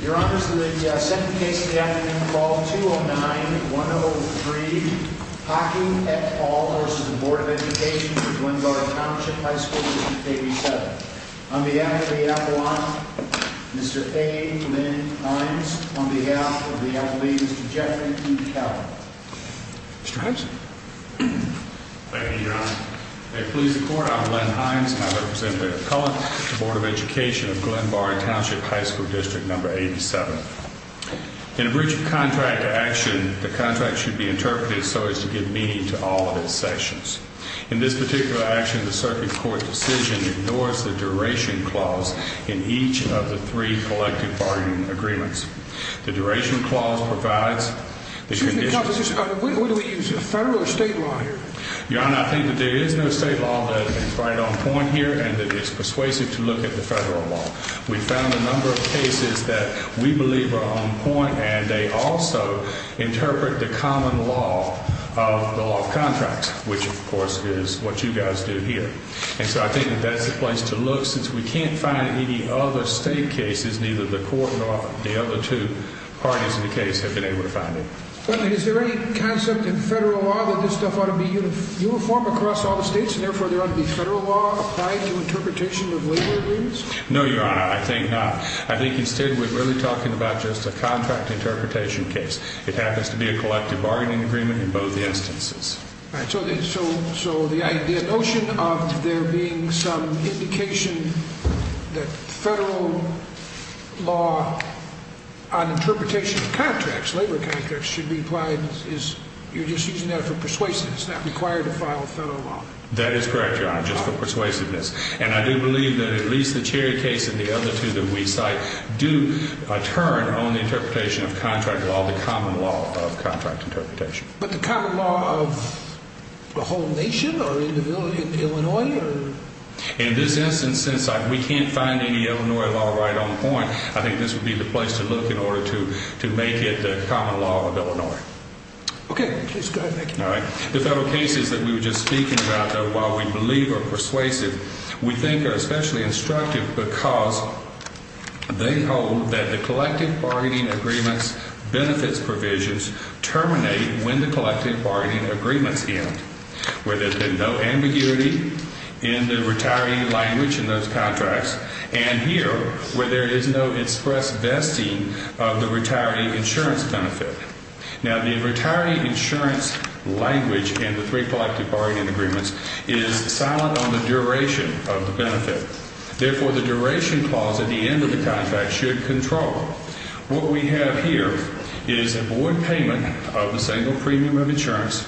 Your Honor, the second case of the afternoon, Fall 209-103, Haake v. Board of Education for Glenbard Township High School District 87. On behalf of the appellant, Mr. A. Lynn Hines. On behalf of the appellate, Mr. Jeffrey P. Kelly. Mr. Hines. Thank you, Your Honor. May it please the Court, I'm Lynn Hines and I represent the appellant, the Board of Education of Glenbard Township High School District number 87. In a breach of contract action, the contract should be interpreted so as to give meaning to all of its sections. In this particular action, the circuit court's decision ignores the duration clause in each of the three collective bargaining agreements. The duration clause provides... Excuse me, Counselor, what do we use, federal or state law here? Your Honor, I think that there is no state law that is right on point here and that is persuasive to look at the federal law. We found a number of cases that we believe are on point and they also interpret the common law of the law of contracts, which of course is what you guys do here. And so I think that that's the place to look since we can't find any other state cases, neither the court nor the other two parties in the case have been able to find any. Is there any concept in federal law that this stuff ought to be uniform across all the states and therefore there ought to be federal law applied to interpretation of labor agreements? No, Your Honor, I think not. I think instead we're really talking about just a contract interpretation case. It happens to be a collective bargaining agreement in both the instances. So the notion of there being some indication that federal law on interpretation of contracts, labor contracts, should be applied is you're just using that for persuasiveness, not required to file federal law? That is correct, Your Honor, just for persuasiveness. And I do believe that at least the Cherry case and the other two that we cite do, by turn, own the interpretation of contract law, the common law of contract interpretation. But the common law of the whole nation or in Illinois? In this instance, since we can't find any Illinois law right on point, I think this would be the place to look in order to make it the common law of Illinois. Okay, please go ahead. The federal cases that we were just speaking about, though, while we believe are persuasive, we think are especially instructive because they hold that the collective bargaining agreements benefits provisions terminate when the collective bargaining agreements end. Where there's been no ambiguity in the retiree language in those contracts and here where there is no express vesting of the retiree insurance benefit. Now, the retiree insurance language and the three collective bargaining agreements is silent on the duration of the benefit. Therefore, the duration clause at the end of the contract should control what we have here is a board payment of a single premium of insurance,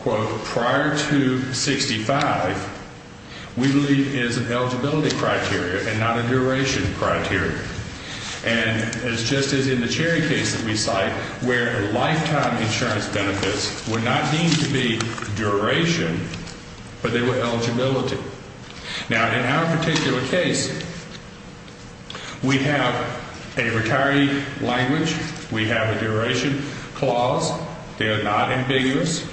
quote, prior to 65. We believe is an eligibility criteria and not a duration criteria. And it's just as in the cherry case that we cite where a lifetime insurance benefits were not deemed to be duration, but they were eligibility. Now, in our particular case, we have a retiree language. We have a duration clause. They are not ambiguous.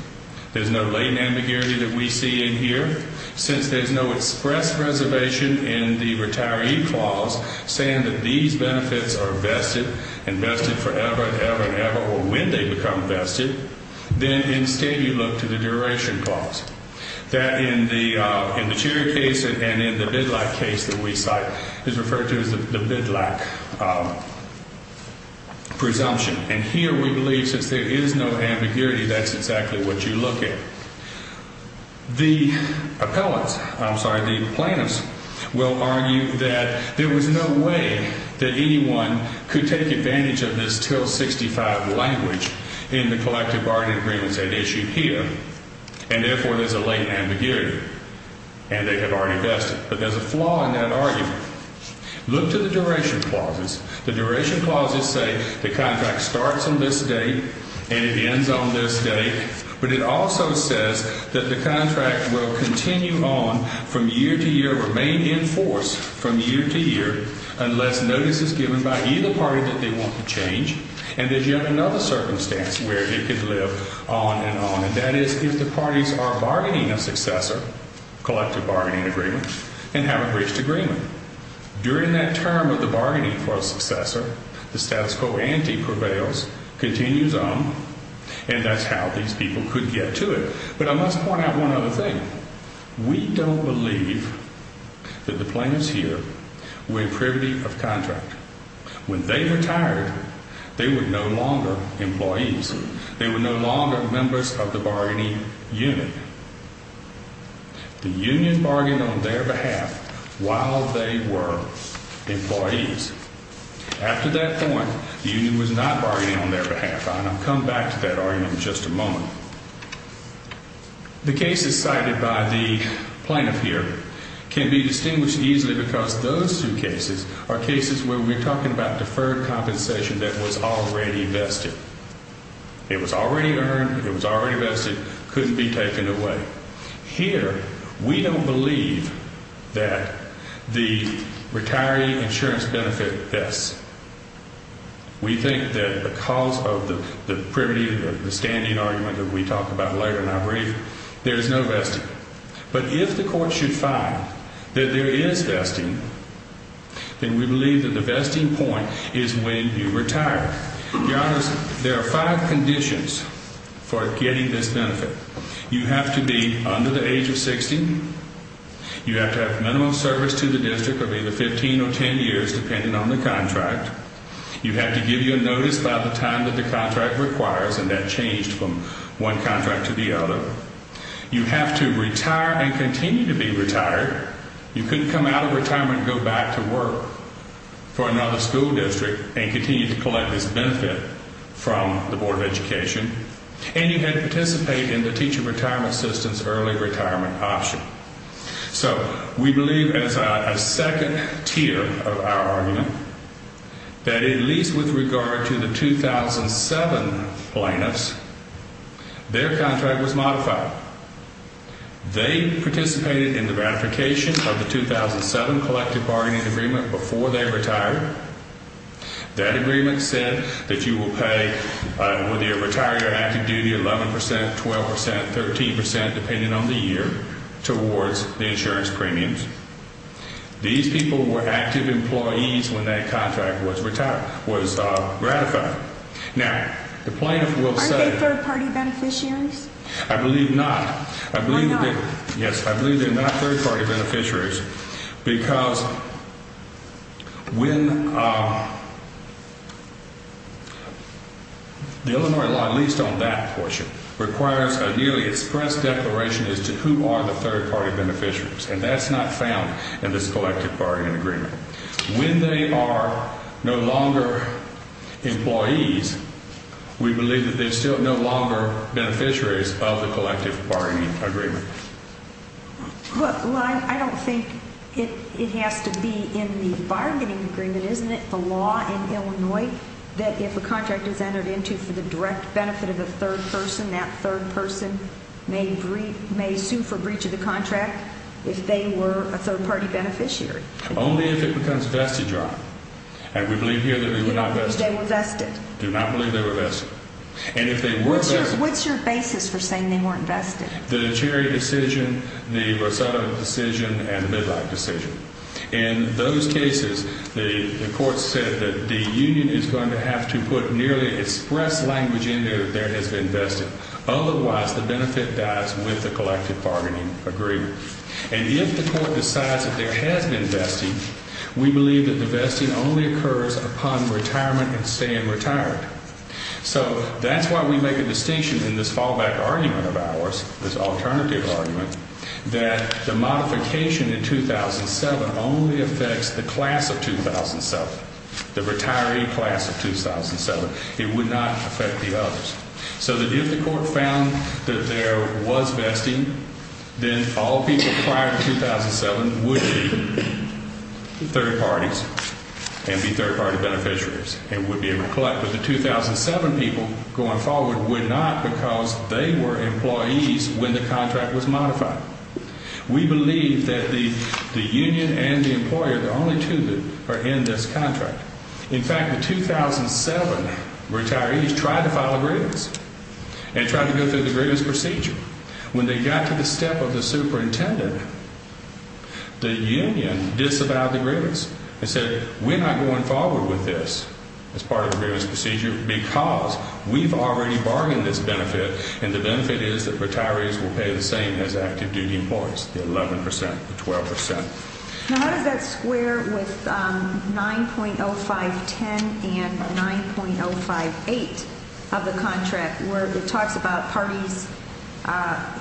There's no latent ambiguity that we see in here. Since there's no express reservation in the retiree clause saying that these benefits are vested and vested forever and ever and ever, or when they become vested, then instead you look to the duration clause. That in the cherry case and in the bid like case that we cite is referred to as the bid like presumption. And here we believe since there is no ambiguity, that's exactly what you look at. The appellants, I'm sorry, the plaintiffs will argue that there was no way that anyone could take advantage of this till 65 language in the collective bargaining agreements that issued here. And therefore, there's a latent ambiguity. And they have already vested. But there's a flaw in that argument. Look to the duration clauses. The duration clauses say the contract starts on this day and it ends on this day. But it also says that the contract will continue on from year to year, remain in force from year to year, unless notice is given by either party that they want to change. And there's yet another circumstance where it could live on and on. And that is if the parties are bargaining a successor, collective bargaining agreement, and haven't reached agreement. During that term of the bargaining for a successor, the status quo ante prevails, continues on. And that's how these people could get to it. But I must point out one other thing. We don't believe that the plaintiffs here were privy of contract. When they retired, they were no longer employees. They were no longer members of the bargaining unit. The union bargained on their behalf while they were employees. After that point, the union was not bargaining on their behalf. And I'll come back to that argument in just a moment. The cases cited by the plaintiff here can be distinguished easily because those two cases are cases where we're talking about deferred compensation that was already vested. It was already earned. It was already vested. It couldn't be taken away. Here, we don't believe that the retiree insurance benefit vests. We think that because of the privity, the standing argument that we talk about later in our brief, there is no vesting. But if the court should find that there is vesting, then we believe that the vesting point is when you retire. Your Honor, there are five conditions for getting this benefit. You have to be under the age of 60. You have to have minimal service to the district of either 15 or 10 years, depending on the contract. You have to give your notice by the time that the contract requires, and that changed from one contract to the other. You have to retire and continue to be retired. You couldn't come out of retirement and go back to work for another school district and continue to collect this benefit from the Board of Education. And you had to participate in the teacher retirement assistance early retirement option. So we believe that it's a second tier of our argument that at least with regard to the 2007 plaintiffs, their contract was modified. They participated in the ratification of the 2007 collective bargaining agreement before they retired. That agreement said that you will pay, whether you're retired or active duty, 11 percent, 12 percent, 13 percent, depending on the year, towards the insurance premiums. These people were active employees when that contract was ratified. Now, the plaintiff will say— Aren't they third-party beneficiaries? I believe not. Why not? Yes, I believe they're not third-party beneficiaries because when—the Illinois law, at least on that portion, requires a newly expressed declaration as to who are the third-party beneficiaries. And that's not found in this collective bargaining agreement. When they are no longer employees, we believe that they're still no longer beneficiaries of the collective bargaining agreement. Well, I don't think it has to be in the bargaining agreement, isn't it? The law in Illinois that if a contract is entered into for the direct benefit of a third person, that third person may sue for breach of the contract if they were a third-party beneficiary. Only if it becomes vested, Your Honor. And we believe here that they were not vested. They were vested. Do not believe they were vested. And if they were vested— What's your basis for saying they weren't vested? The Cherry decision, the Rosado decision, and the Midlake decision. In those cases, the court said that the union is going to have to put nearly expressed language in there that there has been vested. Otherwise, the benefit dies with the collective bargaining agreement. And if the court decides that there has been vesting, we believe that the vesting only occurs upon retirement and staying retired. So that's why we make a distinction in this fallback argument of ours, this alternative argument, that the modification in 2007 only affects the class of 2007, the retiree class of 2007. It would not affect the others. So that if the court found that there was vesting, then all people prior to 2007 would be third parties and be third-party beneficiaries and would be able to collect. But the 2007 people going forward would not because they were employees when the contract was modified. We believe that the union and the employer, the only two that are in this contract— In fact, the 2007 retirees tried to file a grievance and tried to go through the grievance procedure. When they got to the step of the superintendent, the union disavowed the grievance and said, We're not going forward with this as part of the grievance procedure because we've already bargained this benefit, and the benefit is that retirees will pay the same as active duty employees, the 11 percent, the 12 percent. Now, how does that square with 9.0510 and 9.058 of the contract, where it talks about parties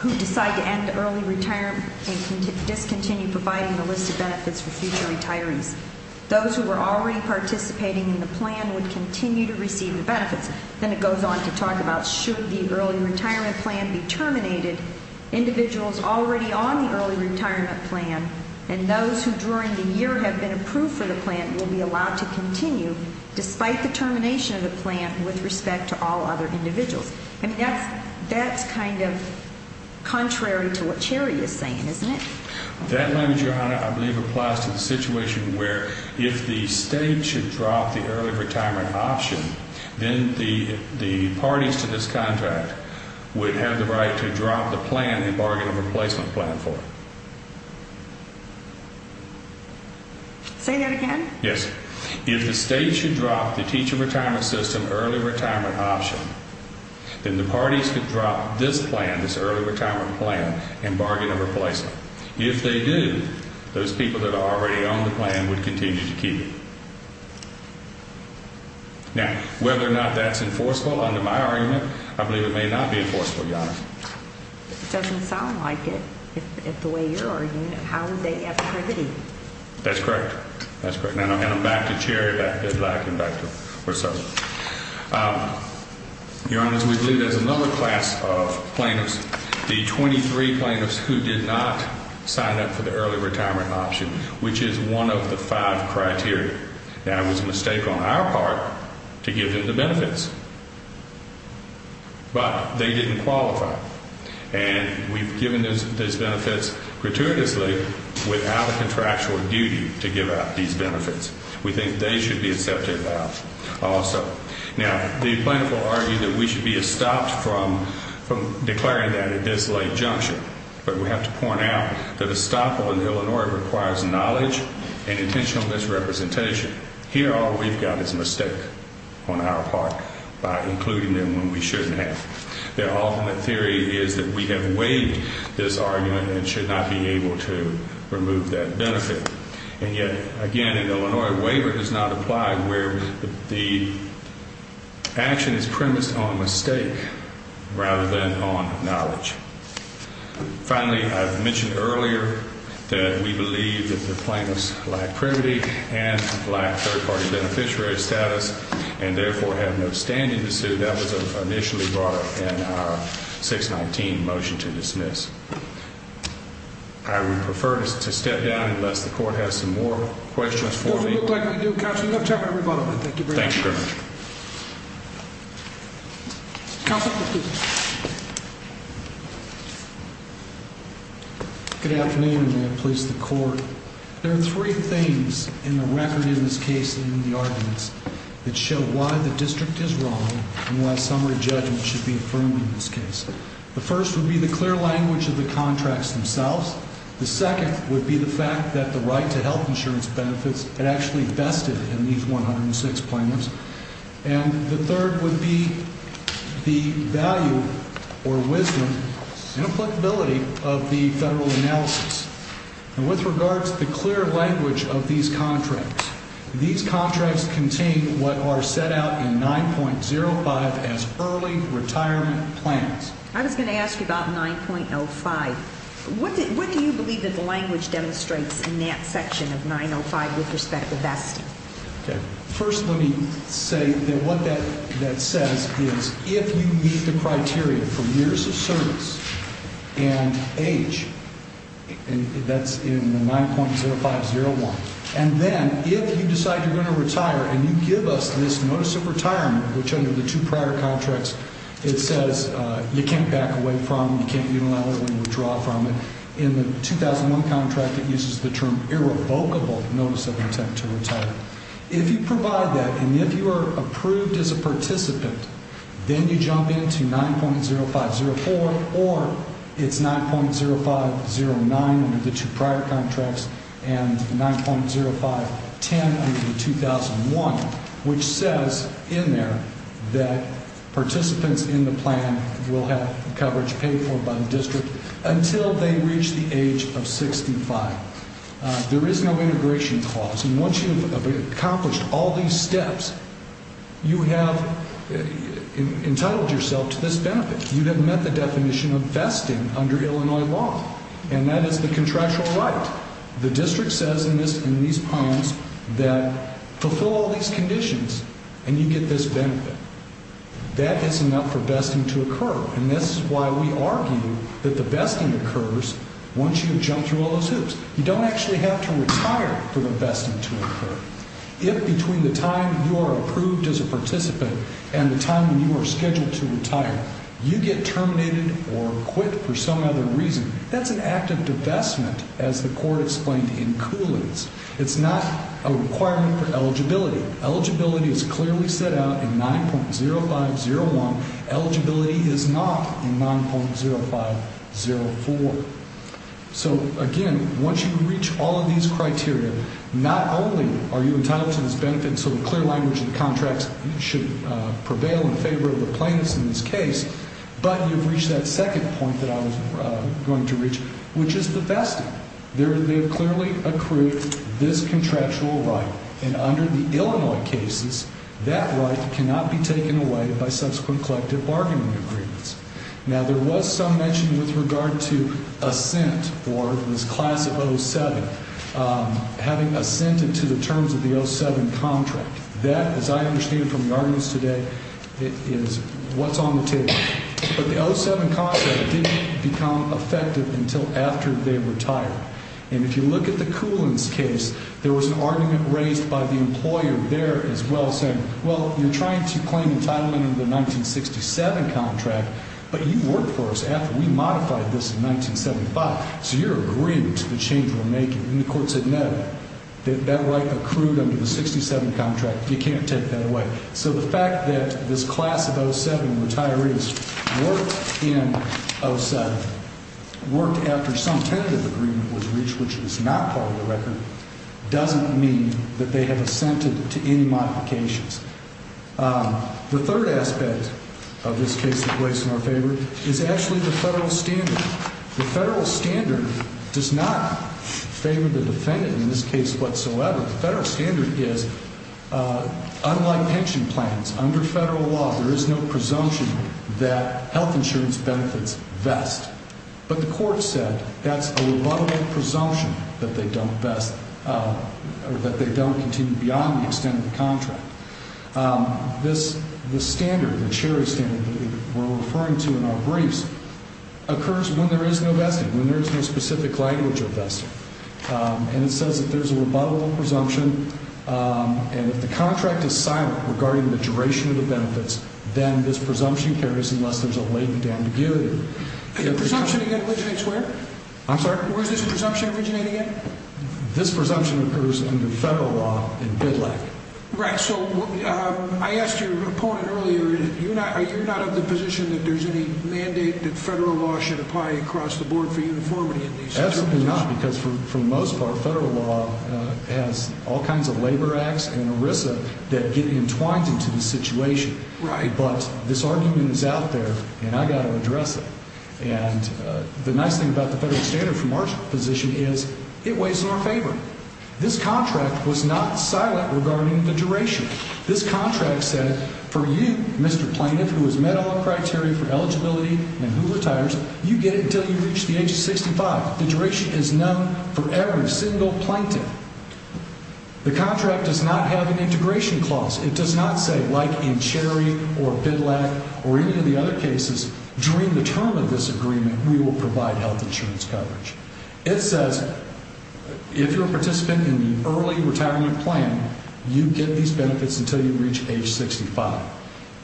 who decide to end early retirement and discontinue providing a list of benefits for future retirees? Those who were already participating in the plan would continue to receive the benefits. Then it goes on to talk about should the early retirement plan be terminated, individuals already on the early retirement plan and those who during the year have been approved for the plan will be allowed to continue despite the termination of the plan with respect to all other individuals. I mean, that's kind of contrary to what Terry is saying, isn't it? That language, Your Honor, I believe applies to the situation where if the state should drop the early retirement option, then the parties to this contract would have the right to drop the plan and bargain a replacement plan for it. Say that again? Yes. If the state should drop the teacher retirement system early retirement option, then the parties could drop this plan, this early retirement plan and bargain a replacement. If they do, those people that are already on the plan would continue to keep it. Now, whether or not that's enforceable, under my argument, I believe it may not be enforceable. Your Honor, it doesn't sound like it. If the way you're arguing it, how would they have the liberty? That's correct. That's correct. And I'm back to Jerry, back to Black and back to Russell. Your Honor, we believe there's another class of plaintiffs, the 23 plaintiffs who did not sign up for the early retirement option, which is one of the five criteria. Now, it was a mistake on our part to give them the benefits, but they didn't qualify. And we've given those benefits gratuitously without a contractual duty to give out these benefits. We think they should be accepted out also. Now, the plaintiff will argue that we should be stopped from declaring that at this late junction. But we have to point out that a stop on Illinois requires knowledge and intentional misrepresentation. Here, all we've got is a mistake on our part by including them when we shouldn't have. Their ultimate theory is that we have waived this argument and should not be able to remove that benefit. And yet, again, an Illinois waiver does not apply where the action is premised on mistake rather than on knowledge. Finally, I've mentioned earlier that we believe that the plaintiffs lack privity and lack third-party beneficiary status and therefore have no standing to sue. That was initially brought up in our 619 motion to dismiss. I would prefer to step down unless the court has some more questions for me. Good afternoon, and may it please the court. There are three things in the record in this case and in the arguments that show why the district is wrong and why summary judgment should be affirmed in this case. The first would be the clear language of the contracts themselves. The second would be the fact that the right to health insurance benefits had actually vested in these 106 plaintiffs. And the third would be the value or wisdom and applicability of the federal analysis. And with regards to the clear language of these contracts, these contracts contain what are set out in 9.05 as early retirement plans. I was going to ask you about 9.05. What do you believe that the language demonstrates in that section of 9.05 with respect to vesting? First, let me say that what that says is if you meet the criteria for years of service and age, that's in the 9.0501, and then if you decide you're going to retire and you give us this notice of retirement, which under the two prior contracts it says you can't back away from, you can't be allowed to withdraw from, in the 2001 contract it uses the term irrevocable notice of intent to retire. If you provide that and if you are approved as a participant, then you jump into 9.0504 or it's 9.0509 under the two prior contracts and 9.0510 under the 2001, which says in there that participants in the plan will have coverage paid for by the district until they reach the age of 65. There is no integration clause. And once you have accomplished all these steps, you have entitled yourself to this benefit. You have met the definition of vesting under Illinois law. And that is the contractual right. The district says in these plans that fulfill all these conditions and you get this benefit. That is enough for vesting to occur. And this is why we argue that the vesting occurs once you have jumped through all those hoops. You don't actually have to retire for the vesting to occur. If between the time you are approved as a participant and the time when you are scheduled to retire, you get terminated or quit for some other reason, that's an act of divestment as the court explained in Cooley's. It's not a requirement for eligibility. Eligibility is clearly set out in 9.0501. Eligibility is not in 9.0504. So, again, once you reach all of these criteria, not only are you entitled to this benefit and so in clear language the contracts should prevail in favor of the plaintiffs in this case, but you've reached that second point that I was going to reach, which is the vesting. They have clearly accrued this contractual right. And under the Illinois cases, that right cannot be taken away by subsequent collective bargaining agreements. Now, there was some mention with regard to assent for this class of 07. Having assented to the terms of the 07 contract. That, as I understand from the arguments today, is what's on the table. But the 07 contract didn't become effective until after they retired. And if you look at the Cooley's case, there was an argument raised by the employer there as well saying, well, you're trying to claim entitlement under the 1967 contract, but you worked for us after we modified this in 1975, so you're agreeing to the change we're making. And the court said, no, that right accrued under the 67 contract. You can't take that away. So the fact that this class of 07 retirees worked in 07, worked after some tentative agreement was reached, which was not part of the record, doesn't mean that they have assented to any modifications. The third aspect of this case that lays in our favor is actually the federal standard. The federal standard does not favor the defendant in this case whatsoever. The federal standard is, unlike pension plans, under federal law, there is no presumption that health insurance benefits vest. But the court said that's a rebuttable presumption that they don't continue beyond the extent of the contract. This standard, the CHERI standard that we're referring to in our briefs, occurs when there is no vesting, when there is no specific language of vesting. And it says that there's a rebuttable presumption, and if the contract is silent regarding the duration of the benefits, then this presumption carries unless there's a latent ambiguity. The presumption again originates where? I'm sorry? Where does the presumption originate again? This presumption occurs under federal law in BIDLAC. Right. So I asked your opponent earlier, are you not of the position that there's any mandate that federal law should apply across the board for uniformity in these situations? Absolutely not, because for the most part, federal law has all kinds of labor acts and ERISA that get entwined into the situation. Right. But this argument is out there, and I've got to address it. And the nice thing about the federal standard from our position is it weighs in our favor. This contract was not silent regarding the duration. This contract said, for you, Mr. Plaintiff, who has met all the criteria for eligibility and who retires, you get it until you reach the age of 65. The duration is known for every single plaintiff. The contract does not have an integration clause. It does not say, like in CHERI or BIDLAC or any of the other cases, during the term of this agreement, we will provide health insurance coverage. It says if you're a participant in the early retirement plan, you get these benefits until you reach age 65.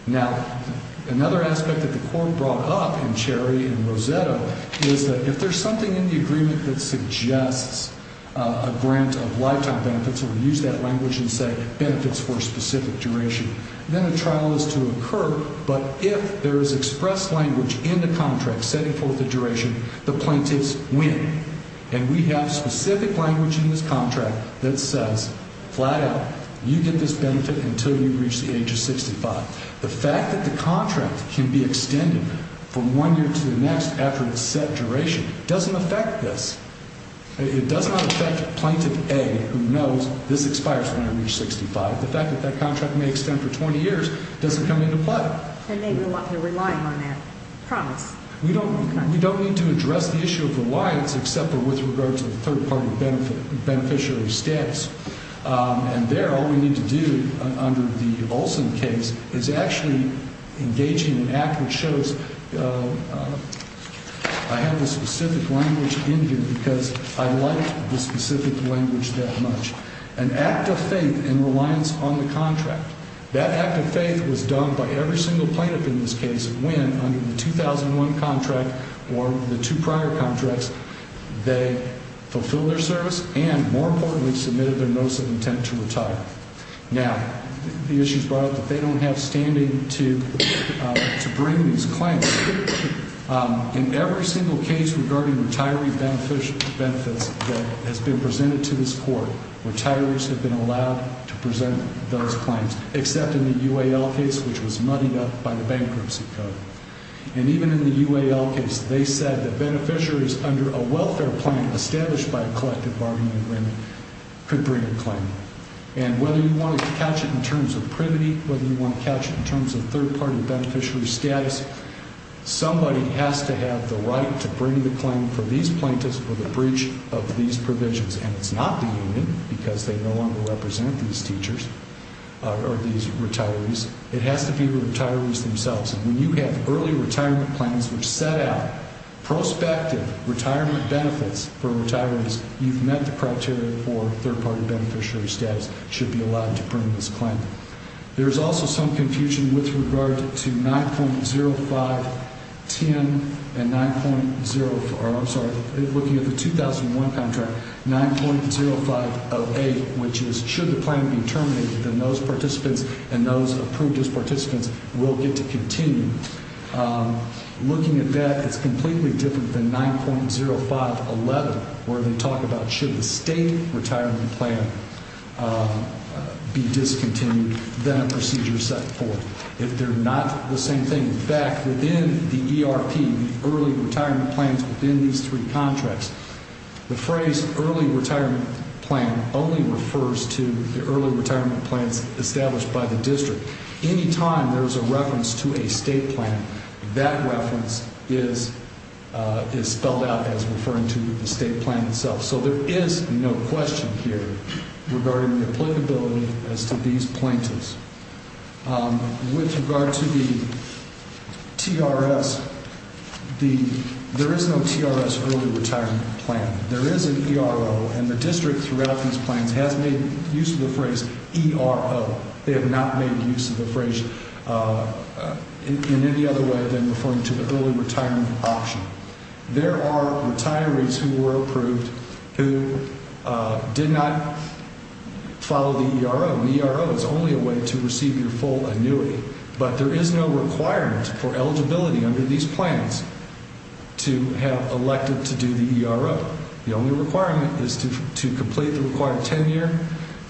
Now, another aspect that the court brought up in CHERI and Roseto is that if there's something in the agreement that suggests a grant of lifetime benefits or use that language and say benefits for a specific duration, then a trial is to occur. But if there is expressed language in the contract setting forth the duration, the plaintiffs win. And we have specific language in this contract that says, flat out, you get this benefit until you reach the age of 65. The fact that the contract can be extended from one year to the next after it's set duration doesn't affect this. It does not affect Plaintiff A, who knows this expires when I reach 65. The fact that that contract may extend for 20 years doesn't come into play. And maybe a lot of people are relying on that promise. We don't need to address the issue of reliance except with regard to the third-party beneficiary status. And there, all we need to do under the Olson case is actually engage in an act which shows I have the specific language in here because I like the specific language that much. An act of faith in reliance on the contract. That act of faith was done by every single plaintiff in this case when, under the 2001 contract or the two prior contracts, they fulfilled their service and, more importantly, submitted their notice of intent to retire. Now, the issue is brought up that they don't have standing to bring these claims. In every single case regarding retiree benefits that has been presented to this Court, retirees have been allowed to present those claims except in the UAL case, which was muddied up by the bankruptcy code. And even in the UAL case, they said that beneficiaries under a welfare plan established by a collective bargaining agreement could bring a claim. And whether you want to catch it in terms of privity, whether you want to catch it in terms of third-party beneficiary status, somebody has to have the right to bring the claim for these plaintiffs for the breach of these provisions. And it's not the union because they no longer represent these teachers or these retirees. It has to be the retirees themselves. And when you have early retirement plans which set out prospective retirement benefits for retirees, you've met the criteria for third-party beneficiary status should be allowed to bring this claim. There is also some confusion with regard to 9.0510 and 9.0 – I'm sorry, looking at the 2001 contract, 9.0508, which is should the plan be terminated, then those participants and those approved as participants will get to continue. Looking at that, it's completely different than 9.0511 where they talk about should the state retirement plan be discontinued than a procedure set forth. If they're not the same thing – in fact, within the ERP, the early retirement plans within these three contracts, the phrase early retirement plan only refers to the early retirement plans established by the district. Anytime there's a reference to a state plan, that reference is spelled out as referring to the state plan itself. So there is no question here regarding the applicability as to these plaintiffs. With regard to the TRS, there is no TRS early retirement plan. There is an ERO, and the district throughout these plans has made use of the phrase ERO. They have not made use of the phrase in any other way than referring to the early retirement option. There are retirees who were approved who did not follow the ERO. The ERO is only a way to receive your full annuity, but there is no requirement for eligibility under these plans to have elected to do the ERO. The only requirement is to complete the required tenure,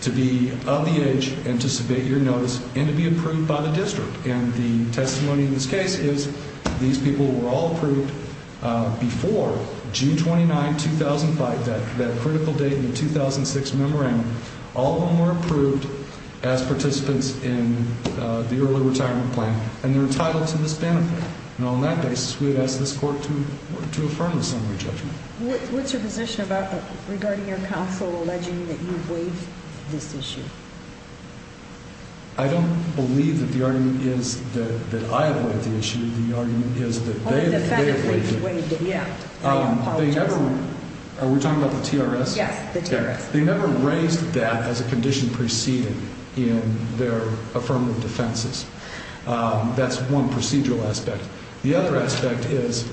to be of the age, and to submit your notice, and to be approved by the district. And the testimony in this case is these people were all approved before June 29, 2005, that critical date in the 2006 memorandum. All of them were approved as participants in the early retirement plan, and they're entitled to this benefit. And on that basis, we would ask this court to affirm the summary judgment. What's your position regarding your counsel alleging that you waived this issue? I don't believe that the argument is that I have waived the issue. The argument is that they have waived it. Are we talking about the TRS? Yes, the TRS. They never raised that as a condition preceded in their affirmative defenses. That's one procedural aspect. The other aspect is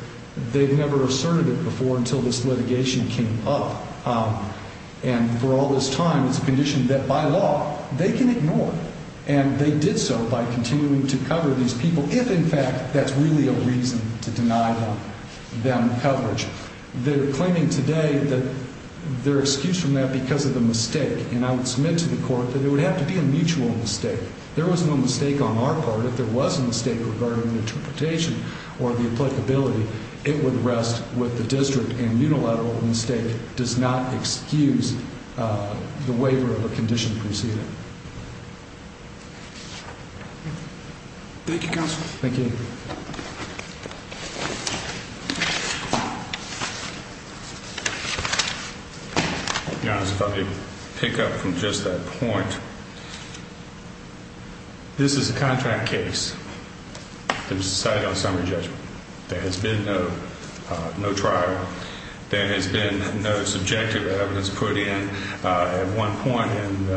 they've never asserted it before until this litigation came up. And for all this time, it's a condition that, by law, they can ignore. And they did so by continuing to cover these people if, in fact, that's really a reason to deny them coverage. They're claiming today that they're excused from that because of a mistake. And I would submit to the court that it would have to be a mutual mistake. There was no mistake on our part. If there was a mistake regarding the interpretation or the applicability, it would rest with the district. And unilateral mistake does not excuse the waiver of a condition preceding. Thank you, counsel. Thank you. Your Honor, if I could pick up from just that point, this is a contract case that was decided on summary judgment. There has been no trial. There has been no subjective evidence put in. At one point in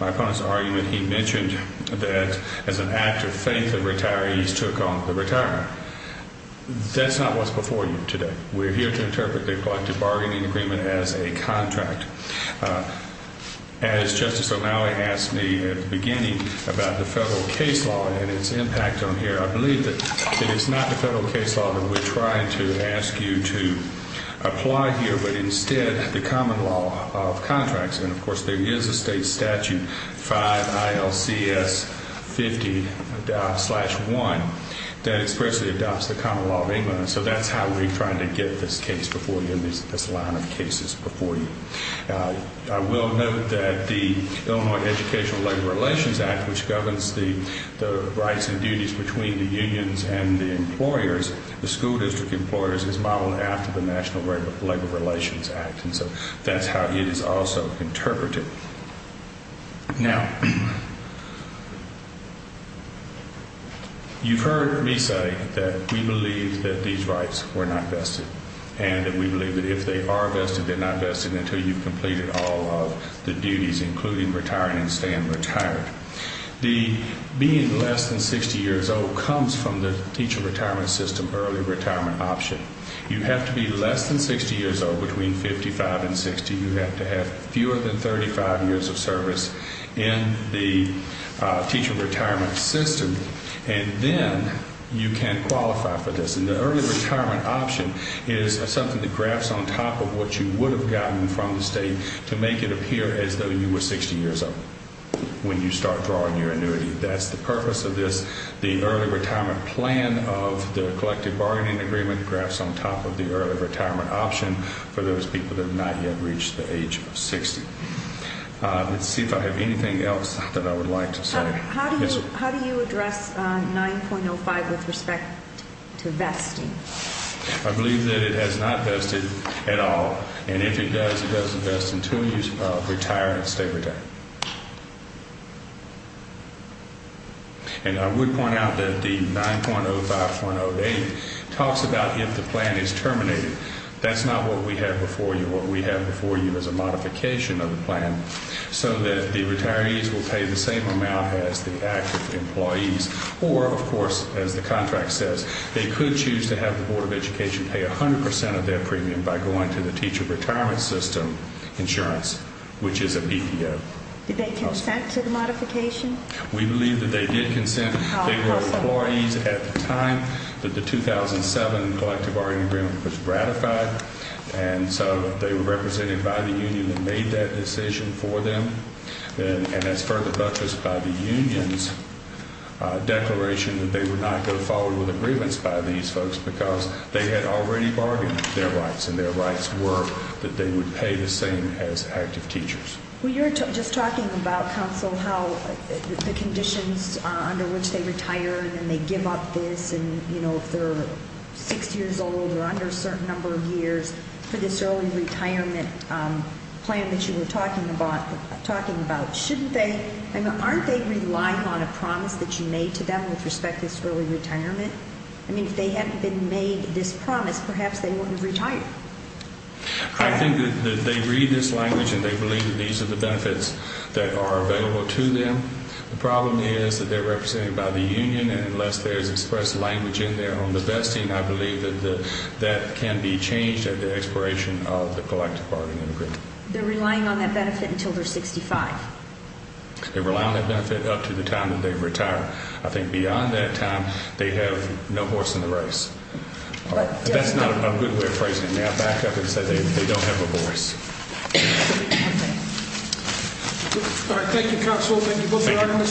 my opponent's argument, he mentioned that, as an act of faith of retirees, took on the retirement. That's not what's before you today. We're here to interpret the collective bargaining agreement as a contract. As Justice O'Malley asked me at the beginning about the federal case law and its impact on here, I believe that it is not the federal case law that we're trying to ask you to apply here, but instead the common law of contracts. And, of course, there is a state statute, 5 ILCS 50-1, that expressly adopts the common law of England. So that's how we're trying to get this case before you and this line of cases before you. I will note that the Illinois Educational Labor Relations Act, which governs the rights and duties between the unions and the employers, the school district employers, is modeled after the National Labor Relations Act. And so that's how it is also interpreted. Now, you've heard me say that we believe that these rights were not vested and that we believe that if they are vested, they're not vested until you've completed all of the duties, including retiring and staying retired. The being less than 60 years old comes from the teacher retirement system, early retirement option. You have to be less than 60 years old, between 55 and 60. You have to have fewer than 35 years of service in the teacher retirement system, and then you can qualify for this. And the early retirement option is something that graphs on top of what you would have gotten from the state to make it appear as though you were 60 years old when you start drawing your annuity. That's the purpose of this. The early retirement plan of the collective bargaining agreement graphs on top of the early retirement option for those people that have not yet reached the age of 60. Let's see if I have anything else that I would like to say. How do you address 9.05 with respect to vesting? I believe that it has not vested at all, and if it does, it does invest until you retire and stay retired. And I would point out that the 9.05.08 talks about if the plan is terminated. That's not what we have before you. What we have before you is a modification of the plan so that the retirees will pay the same amount as the active employees, or, of course, as the contract says, they could choose to have the Board of Education pay 100 percent of their premium by going to the teacher retirement system insurance, which is a PPO. Did they consent to the modification? We believe that they did consent. They were employees at the time that the 2007 collective bargaining agreement was ratified, and so they were represented by the union that made that decision for them. And that's further buttressed by the union's declaration that they would not go forward with agreements by these folks because they had already bargained their rights, and their rights were that they would pay the same as active teachers. Well, you're just talking about, counsel, how the conditions under which they retire and then they give up this, and, you know, if they're 60 years old or under a certain number of years for this early retirement plan that you were talking about, shouldn't they? I mean, aren't they relying on a promise that you made to them with respect to this early retirement? I mean, if they hadn't been made this promise, perhaps they wouldn't have retired. I think that they read this language and they believe that these are the benefits that are available to them. The problem is that they're represented by the union, and unless there's expressed language in there on the best team, I believe that that can be changed at the expiration of the collective bargaining agreement. They're relying on that benefit until they're 65. They rely on that benefit up to the time that they retire. I think beyond that time, they have no voice in the race. That's not a good way of phrasing it. May I back up and say they don't have a voice? All right. Thank you, counsel. Thank you both for your arguments.